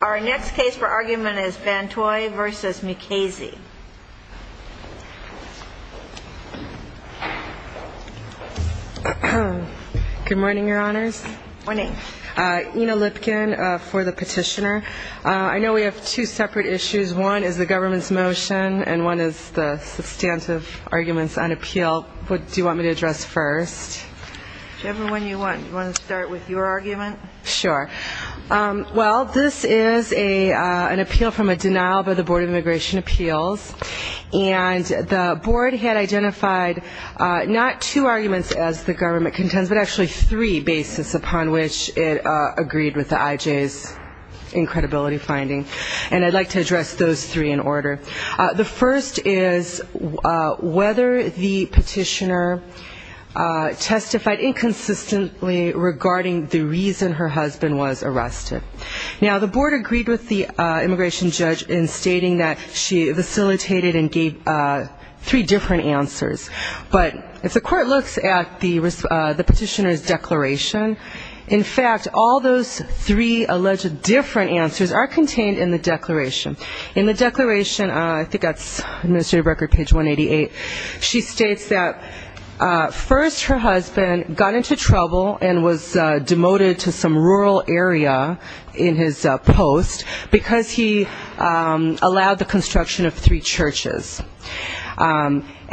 Our next case for argument is Van Htoi v. Mukasey. Good morning, Your Honors. Good morning. Ina Lipkin for the Petitioner. I know we have two separate issues. One is the government's motion and one is the substantive arguments on appeal. What do you want me to address first? Whichever one you want. Do you want to start with your argument? Sure. Well, this is an appeal from a denial by the Board of Immigration Appeals. And the Board had identified not two arguments as the government contends, but actually three basis upon which it agreed with the IJs in credibility finding. And I'd like to address those three in order. The first is whether the Petitioner testified inconsistently regarding the reason for the denial. The second is whether the Petitioner testified inconsistently regarding the reason her husband was arrested. Now, the Board agreed with the immigration judge in stating that she facilitated and gave three different answers. But if the court looks at the Petitioner's declaration, in fact all those three alleged different answers are contained in the declaration. In the declaration, I think that's Administrative Record, page 188, she states that first her husband got into trouble and was demoted to some form of probation.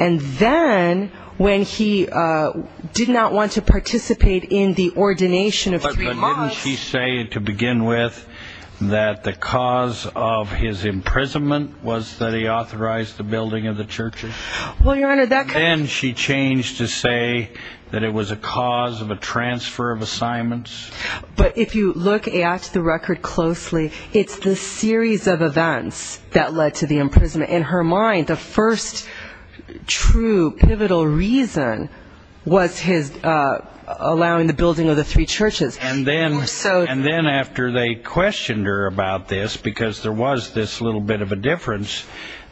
And then when he did not want to participate in the ordination of three mosques. But didn't she say to begin with that the cause of his imprisonment was that he authorized the building of the churches? Well, Your Honor, that could be... But if you look at the record closely, it's the series of events that led to the imprisonment. In her mind, the first true pivotal reason was his allowing the building of the three churches. And then after they questioned her about this, because there was this little bit of a difference,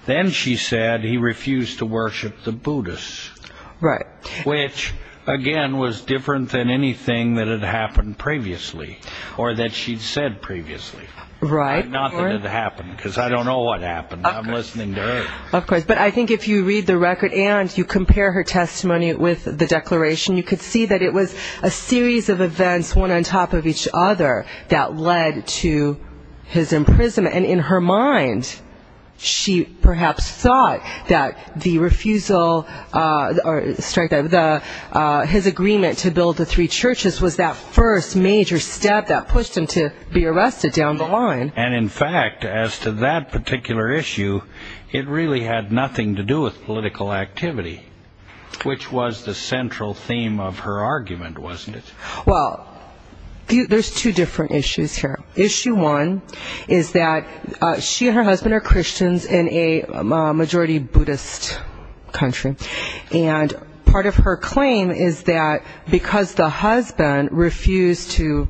then she said he refused to worship the Buddhists. Which, again, was different than anything that had happened previously or that she'd said previously. Not that it happened, because I don't know what happened. I'm listening to her. Of course, but I think if you read the record and you compare her testimony with the declaration, you could see that it was a series of events, one on top of each other, that led to his imprisonment. And in her mind, she perhaps thought that the refusal of the building of the three churches was the cause of his imprisonment. His agreement to build the three churches was that first major step that pushed him to be arrested down the line. And in fact, as to that particular issue, it really had nothing to do with political activity, which was the central theme of her argument, wasn't it? Well, there's two different issues here. Issue one is that she and her husband are Christians in a majority Buddhist country. And part of her claim is that because the husband refused to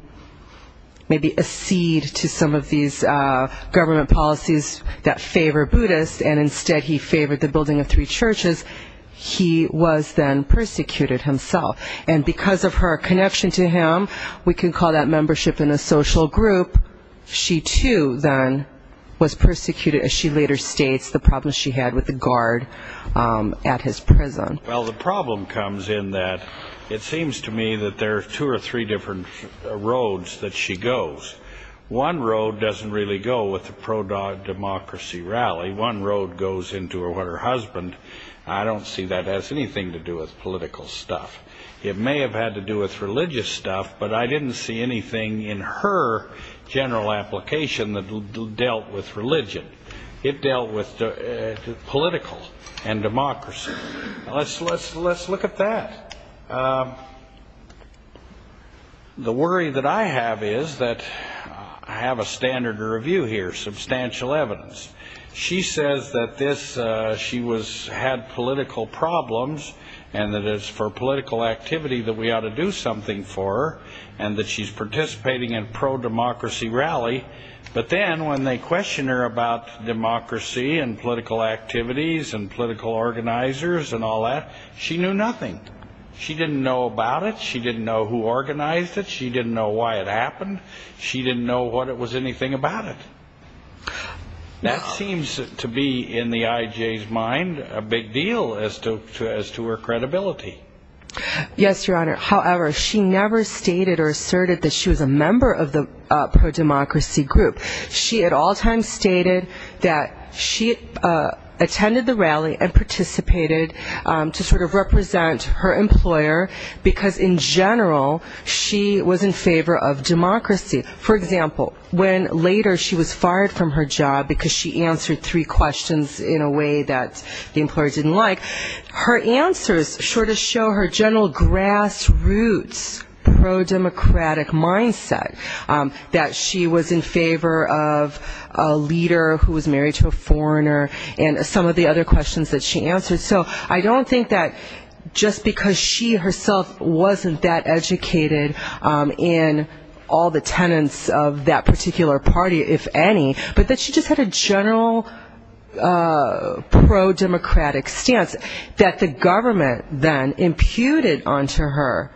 maybe accede to some of these government policies that favor Buddhists, and instead he favored the building of three churches, he was then persecuted himself. And because of her connection to him, we can call that membership in a social group, she too, then, was persecuted, as she later states, the problem she had with the guard at his prison. Well, the problem comes in that it seems to me that there are two or three different roads that she goes. One road doesn't really go with the pro-democracy rally. One road goes into her husband. I don't see that has anything to do with political stuff. It may have had to do with religious stuff, but I didn't see anything in her general application that dealt with religion. It dealt with political and democracy. Let's look at that. The worry that I have is that I have a standard to review here, substantial evidence. She says that she had political problems, and that it's for political activity that we ought to do something for her, and that she's participating in pro-democracy rally. But then when they question her about democracy and political activities and political organizers and all that, she knew nothing. She didn't know about it. She didn't know who organized it. She didn't know why it happened. She didn't know what it was, anything about it. That seems to be, in the IJ's mind, a big deal as to her credibility. Yes, Your Honor. However, she never stated or asserted that she was a member of the pro-democracy rally. She never stated that she was a member of the pro-democracy group. She at all times stated that she attended the rally and participated to sort of represent her employer, because in general, she was in favor of democracy. For example, when later she was fired from her job because she answered three questions in a way that the employer didn't like, her answers sort of show her general grassroots pro-democratic mindset that she was in favor of democracy. She was in favor of a leader who was married to a foreigner and some of the other questions that she answered. So I don't think that just because she herself wasn't that educated in all the tenets of that particular party, if any, but that she just had a general pro-democratic stance that the government then imputed onto her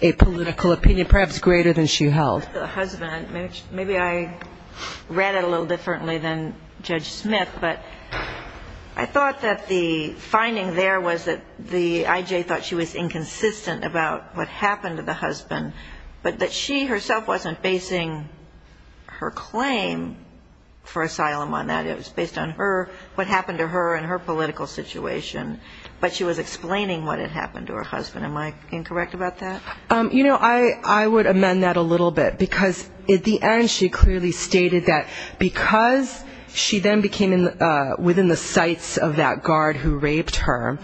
a political opinion, perhaps greater than she held. I have a question about the husband. Maybe I read it a little differently than Judge Smith, but I thought that the finding there was that the I.J. thought she was inconsistent about what happened to the husband, but that she herself wasn't basing her claim for asylum on that. It was based on her, what happened to her and her political situation, but she was explaining what had happened to her husband. Am I incorrect about that? You know, I would amend that a little bit, because at the end she clearly stated that because she then became within the sights of that guard who raped her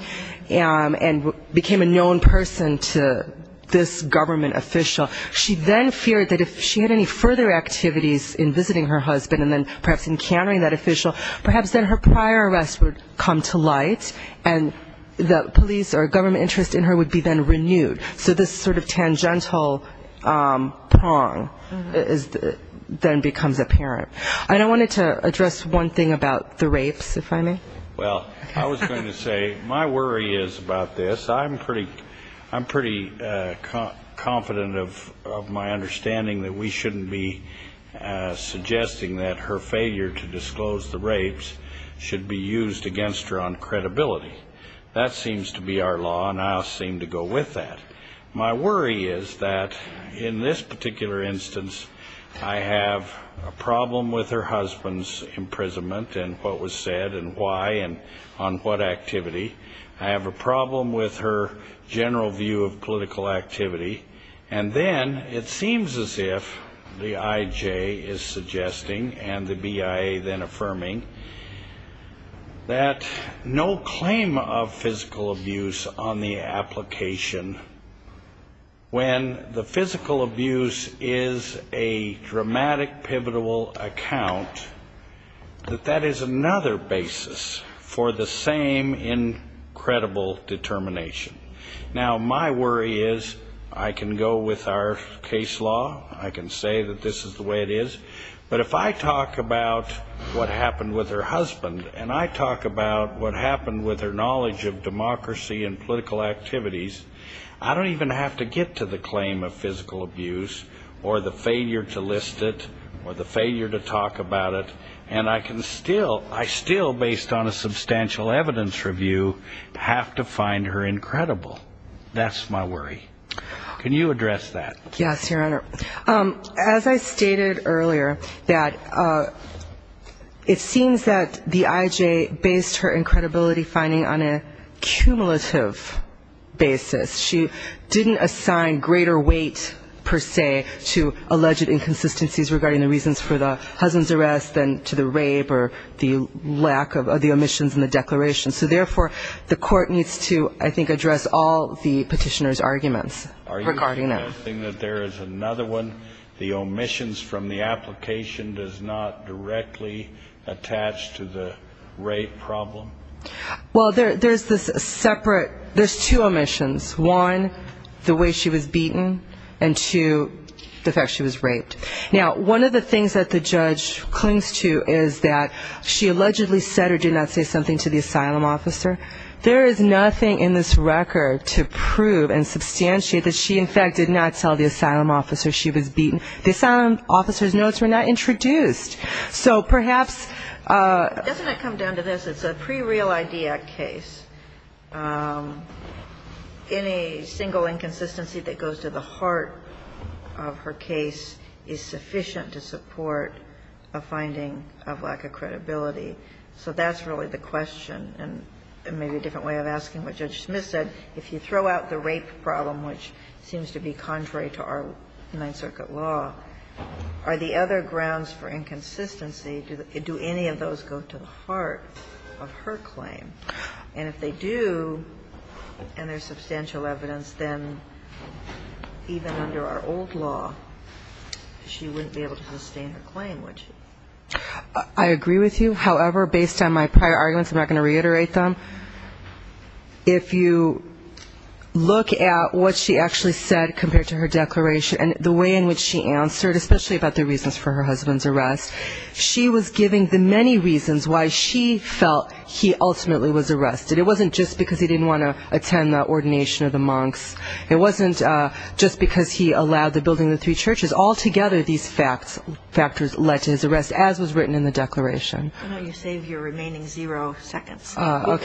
and became a known person to this government official, she then feared that if she had any further activities in visiting her husband and then perhaps encountering that official, perhaps then her prior arrest would come to light and the police or government interest in her would be then renewed. So this sort of tangential prong then becomes apparent. I wanted to address one thing about the rapes, if I may. Well, I was going to say my worry is about this. I'm pretty confident of my understanding that we shouldn't be suggesting that her failure to disclose the rapes should be used against her on credibility. That seems to be our law, and I'll seem to go with that. My worry is that in this particular instance, I have a problem with her husband's imprisonment and what was said and why and on what activity. I have a problem with her general view of political activity. And then it seems as if the IJ is suggesting and the BIA then affirming that no claim of physical abuse on the application should be used against her. When the physical abuse is a dramatic, pivotal account, that that is another basis for the same incredible determination. Now, my worry is I can go with our case law. I can say that this is the way it is. But if I talk about what happened with her husband and I talk about what happened with her knowledge of democracy and political activities, I don't even have to go back to that. I don't even have to get to the claim of physical abuse or the failure to list it or the failure to talk about it. And I can still, I still, based on a substantial evidence review, have to find her incredible. That's my worry. Can you address that? Yes, Your Honor. As I stated earlier, that it seems that the IJ based her incredibility finding on a cumulative basis. She didn't assign greater weight, per se, to alleged inconsistencies regarding the reasons for the husband's arrest than to the rape or the lack of the omissions in the declaration. So therefore, the court needs to, I think, address all the petitioner's arguments regarding that. Are you suggesting that there is another one, the omissions from the application does not directly attach to the rape problem? Well, there's this separate, there's two omissions. One, the way she was beaten, and two, the fact she was raped. Now, one of the things that the judge clings to is that she allegedly said or did not say something to the asylum officer. There is nothing in this record to prove and substantiate that she, in fact, did not tell the asylum officer she was beaten. The asylum officer's notes were not introduced. So perhaps... Doesn't it come down to this? It's a pre-Real ID Act case. Any single inconsistency that goes to the heart of her case is sufficient to support a finding of lack of credibility. So that's really the question, and maybe a different way of asking what Judge Smith said. If you throw out the rape problem, which seems to be contrary to our Ninth Circuit law, are the other grounds for inconsistency? Do any of those go to the heart of her claim? And if they do, and there's substantial evidence, then even under our old law, she wouldn't be able to sustain her claim, would she? I agree with you. However, based on my prior arguments, I'm not going to reiterate them. If you look at what she actually said compared to her declaration, and the way in which she answered, especially about the reasons for her husband's arrest, she was giving the many reasons why she felt he ultimately was arrested. It wasn't just because he didn't want to attend the ordination of the monks. It wasn't just because he allowed the building of the three churches. Altogether, these factors led to his arrest, as was written in the declaration. Why don't you save your remaining zero seconds? We're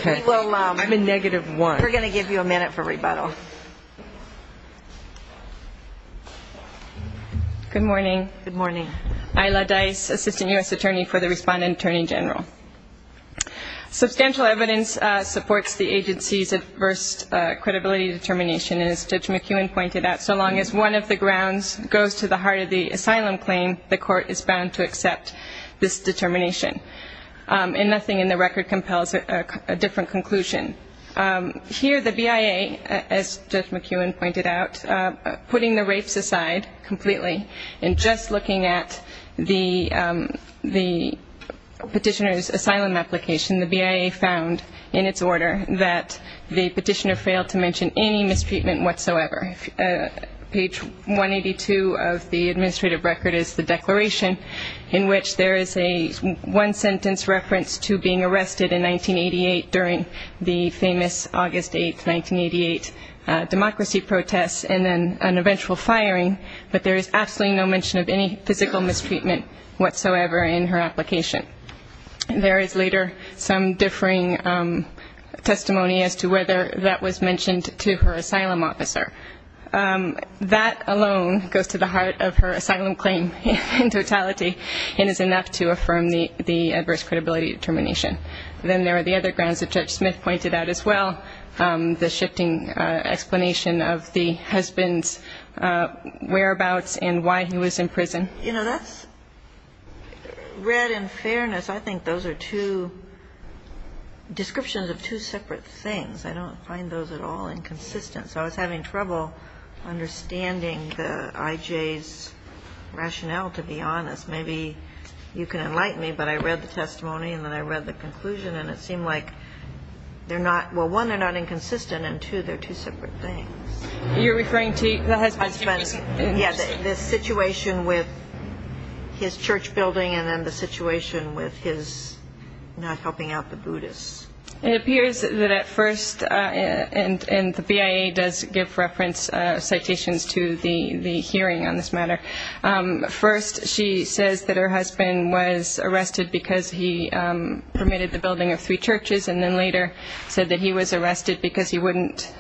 going to give you a minute for rebuttal. Good morning. Ayla Dice, Assistant U.S. Attorney for the Respondent Attorney General. Substantial evidence supports the agency's adverse credibility determination, and as Judge McEwen pointed out, so long as one of the grounds goes to the heart of the asylum claim, the court is bound to accept this determination. And nothing in the record compels a different conclusion. Here, the BIA, as Judge McEwen pointed out, putting the rapes aside completely, and just looking at the petitioner's asylum application, the BIA found in its order that the petitioner failed to mention any mistreatment whatsoever. Page 182 of the administrative record is the declaration in which there is a one-sentence reference to being arrested in 1988 during the petition. There is no mention of any famous August 8, 1988 democracy protests, and then an eventual firing, but there is absolutely no mention of any physical mistreatment whatsoever in her application. There is later some differing testimony as to whether that was mentioned to her asylum officer. That alone goes to the heart of her asylum claim in totality, and is enough to affirm the adverse credibility determination. Then there are the other grounds that Judge Smith pointed out as well, the shifting explanation of the husband's whereabouts and why he was in prison. You know, that's, read in fairness, I think those are two descriptions of two separate things. I don't find those at all inconsistent, so I was having trouble understanding the IJ's rationale, to be honest. Maybe you can enlighten me, but I read the testimony, and then I read the conclusion, and it seemed like they're not, well, one, they're not inconsistent, and two, they're two separate things. Yeah, the situation with his church building, and then the situation with his not helping out the Buddhists. It appears that at first, and the BIA does give reference citations to the hearing on this matter, first, she said, she says that her husband was arrested because he permitted the building of three churches, and then later said that he was arrested because he wouldn't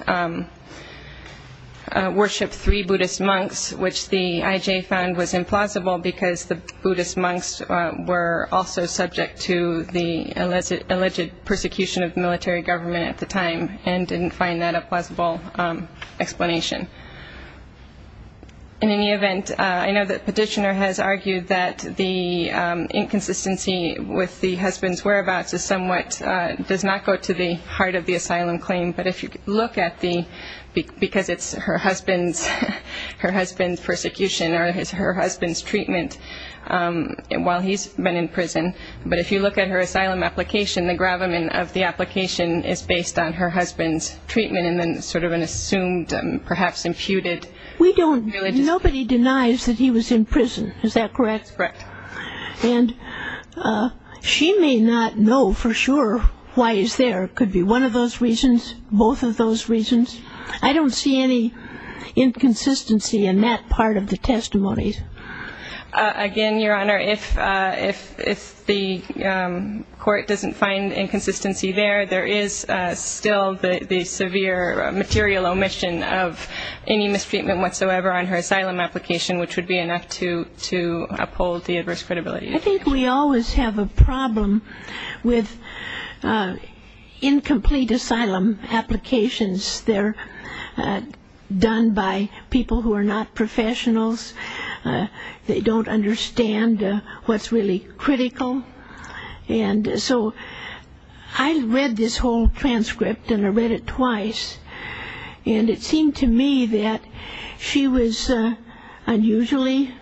worship three Buddhist monks, which the IJ found was implausible, because the Buddhist monks were also subject to the alleged persecution of military government at the time, and didn't find that a plausible explanation. In any event, I know that the petitioner has argued that the inconsistency with the husband's whereabouts is somewhat, does not go to the heart of the asylum claim, but if you look at the, because it's her husband's persecution, or it's her husband's treatment while he's been in prison, but if you look at her asylum application, the gravamen of the application is based on her husband's treatment, and then sort of an assumed, perhaps imputed. Nobody denies that he was in prison, is that correct? That's correct. And she may not know for sure why he's there. It could be one of those reasons, both of those reasons. I don't see any inconsistency in that part of the testimony. Again, Your Honor, if the court doesn't find inconsistency there, there is still the severe material omission of any mistreatment whatsoever on her asylum application, which would be enough to uphold the adverse credibility. I think we always have a problem with incomplete asylum applications. They're done by people who are not professionals. They don't understand what's really critical. I read this whole transcript, and I read it twice, and it seemed to me that she was unusually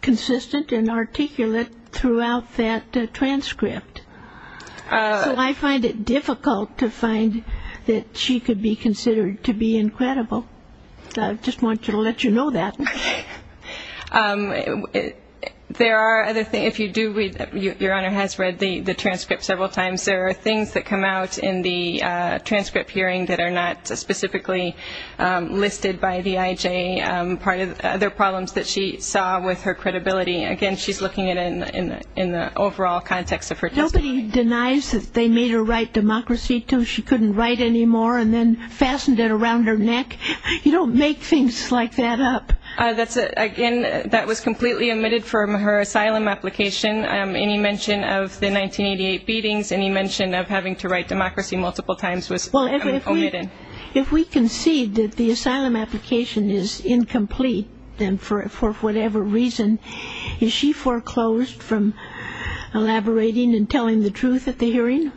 consistent and articulate throughout that transcript. So I find it difficult to find that she could be considered to be incredible. So I just wanted to let you know that. There are other things, if you do read, Your Honor has read the transcript several times, there are things that come out in the transcript hearing that are not specifically listed by the IJ, other problems that she saw with her credibility. Again, she's looking at it in the overall context of her testimony. Nobody denies that they made her write Democracy II, she couldn't write anymore, and then fastened it around her neck. You don't make things like that up. Again, that was completely omitted from her asylum application, any mention of the 1988 beatings, any mention of having to write Democracy multiple times was omitted. Well, if we concede that the asylum application is incomplete, then for whatever reason, is she foreclosed from elaborating and telling the truth? The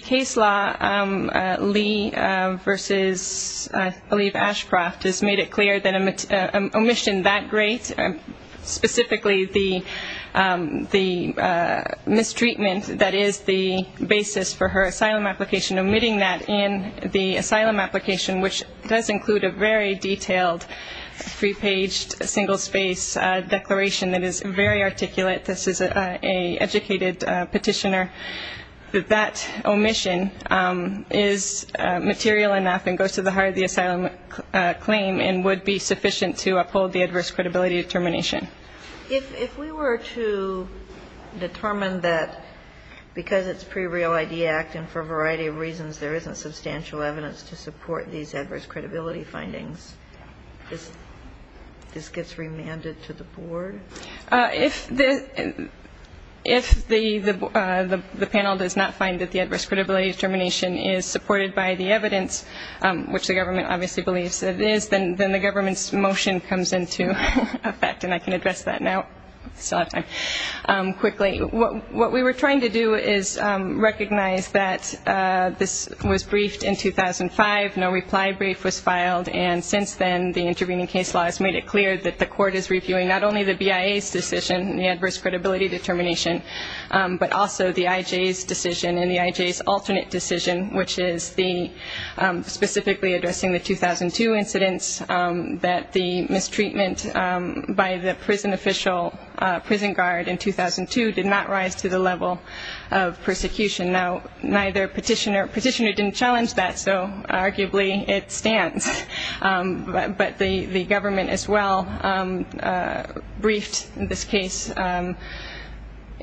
case law, Lee v. Aliev Ashcroft, has made it clear that an omission that great, specifically the mistreatment that is the basis for her asylum application, omitting that in the asylum application, which does include a very detailed, free-paged, single-space declaration that is very articulate. This is an educated petitioner, that that omission is material enough and goes to the heart of the asylum claim and would be sufficient to uphold the adverse credibility determination. If we were to determine that because it's pre-Real ID Act and for a variety of reasons there isn't substantial evidence to support these adverse credibility findings, this gets remanded to the board? If the panel does not find that the adverse credibility determination is supported by the evidence, which the government obviously believes it is, then the government's motion comes into effect. And I can address that now, I still have time, quickly. What we were trying to do is recognize that this was briefed in 2005, no reply brief was filed, and since then the intervening case law has made it clear that the court is reviewing not only the BIA case law, but also other cases. Not only the BIA's decision, the adverse credibility determination, but also the IJ's decision and the IJ's alternate decision, which is the specifically addressing the 2002 incidents, that the mistreatment by the prison official, prison guard in 2002 did not rise to the level of persecution. Now, neither petitioner, petitioner didn't challenge that, so arguably it stands. But the government as well briefed this case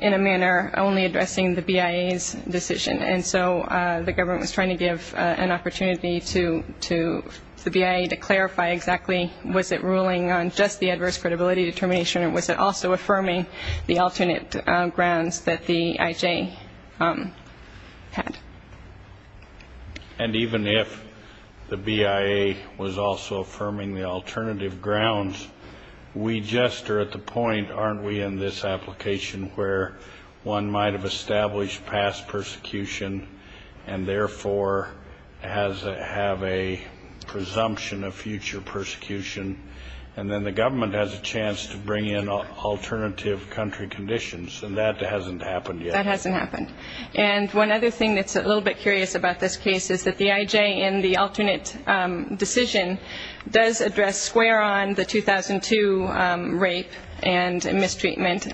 in a manner only addressing the BIA's decision, and so the government was trying to give an opportunity to the BIA to clarify exactly was it ruling on just the adverse credibility determination or was it also affirming the alternate grounds that the IJ had. And even if the BIA was also affirming the alternative grounds, we just are at the point, aren't we, in this application where one might have established past persecution and therefore have a presumption of future persecution, and then the government has a chance to bring in alternative country conditions, and that hasn't happened yet. And one other thing that's a little bit curious about this case is that the IJ in the alternate decision does address square on the 2002 rape and mistreatment,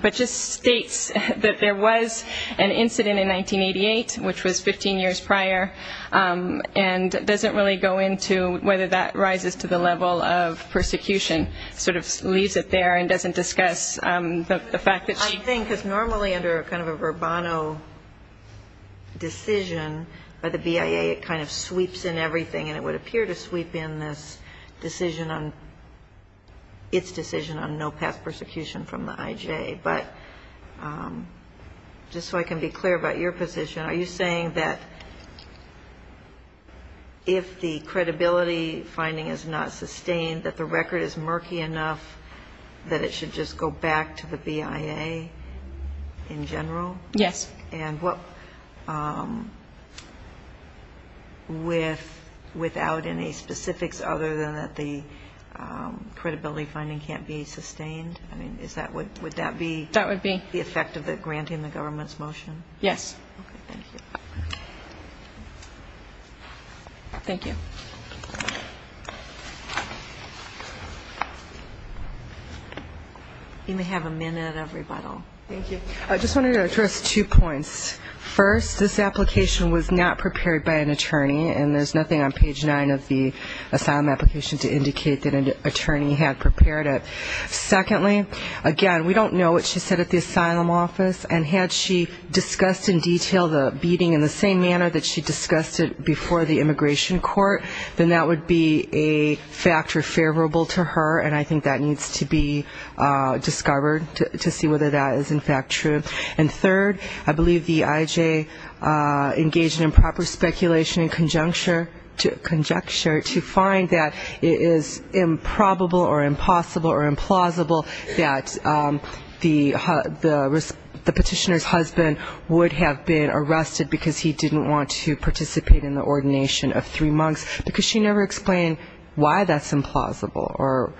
but just states that there was an incident in 1988, which was 15 years prior, and doesn't really go into whether that rises to the level of persecution, sort of leaves it there and doesn't discuss the fact that she... And so I'm just wondering if you're saying that the Verbano decision by the BIA, it kind of sweeps in everything, and it would appear to sweep in this decision on, its decision on no past persecution from the IJ, but just so I can be clear about your position, are you saying that if the credibility finding is not sustained, that the record is murky enough that it should just go back to the BIA in general? And without any specifics other than that the credibility finding can't be sustained? I mean, would that be the effect of granting the government's motion? Yes. Thank you. You may have a minute of rebuttal. Thank you. I just wanted to address two points. First, this application was not prepared by an attorney, and there's nothing on page 9 of the asylum application to indicate that an attorney had prepared it. Secondly, again, we don't know what she said at the asylum office, and had she discussed in detail the beating in the same manner that she discussed it before the immigration court, I don't think that that would have been the case. Third, I believe the IJ engaged in improper speculation and conjecture to find that it is improbable or impossible or implausible that the petitioner's husband would have been arrested because he didn't want to participate in the ordination of three monks. Because she never explained why that's implausible or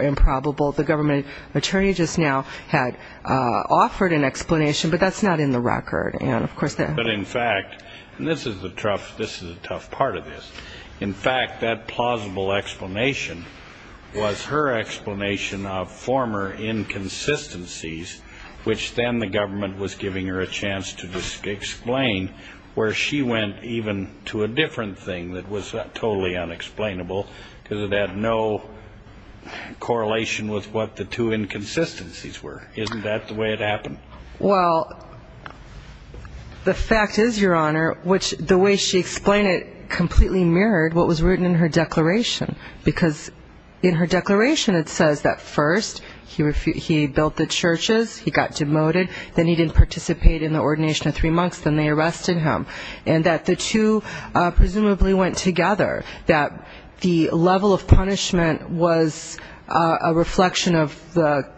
improbable. The government attorney just now had offered an explanation, but that's not in the record. But, in fact, and this is the tough part of this, in fact, that plausible explanation was her explanation of former inconsistencies, which then the government was giving her a chance to explain, where she went even to a different thing. And that was totally unexplainable because it had no correlation with what the two inconsistencies were. Isn't that the way it happened? Well, the fact is, Your Honor, which the way she explained it completely mirrored what was written in her declaration. Because in her declaration it says that first he built the churches, he got demoted, then he didn't participate in the ordination of three monks, then they arrested him. And that the two presumably went together, that the level of punishment was a reflection of the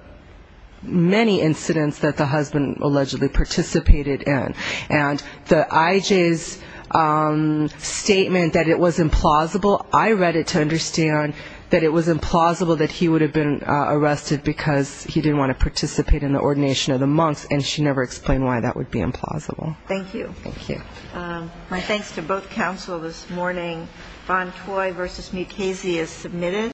many incidents that the husband allegedly participated in. And the IJ's statement that it was implausible, I read it to understand that it was implausible that he would have been arrested because he didn't want to participate in the ordination of the monks, and she never explained why that would be implausible. Thank you. Thank you. My thanks to both counsel this morning. Bontoy v. Mukasey is submitted.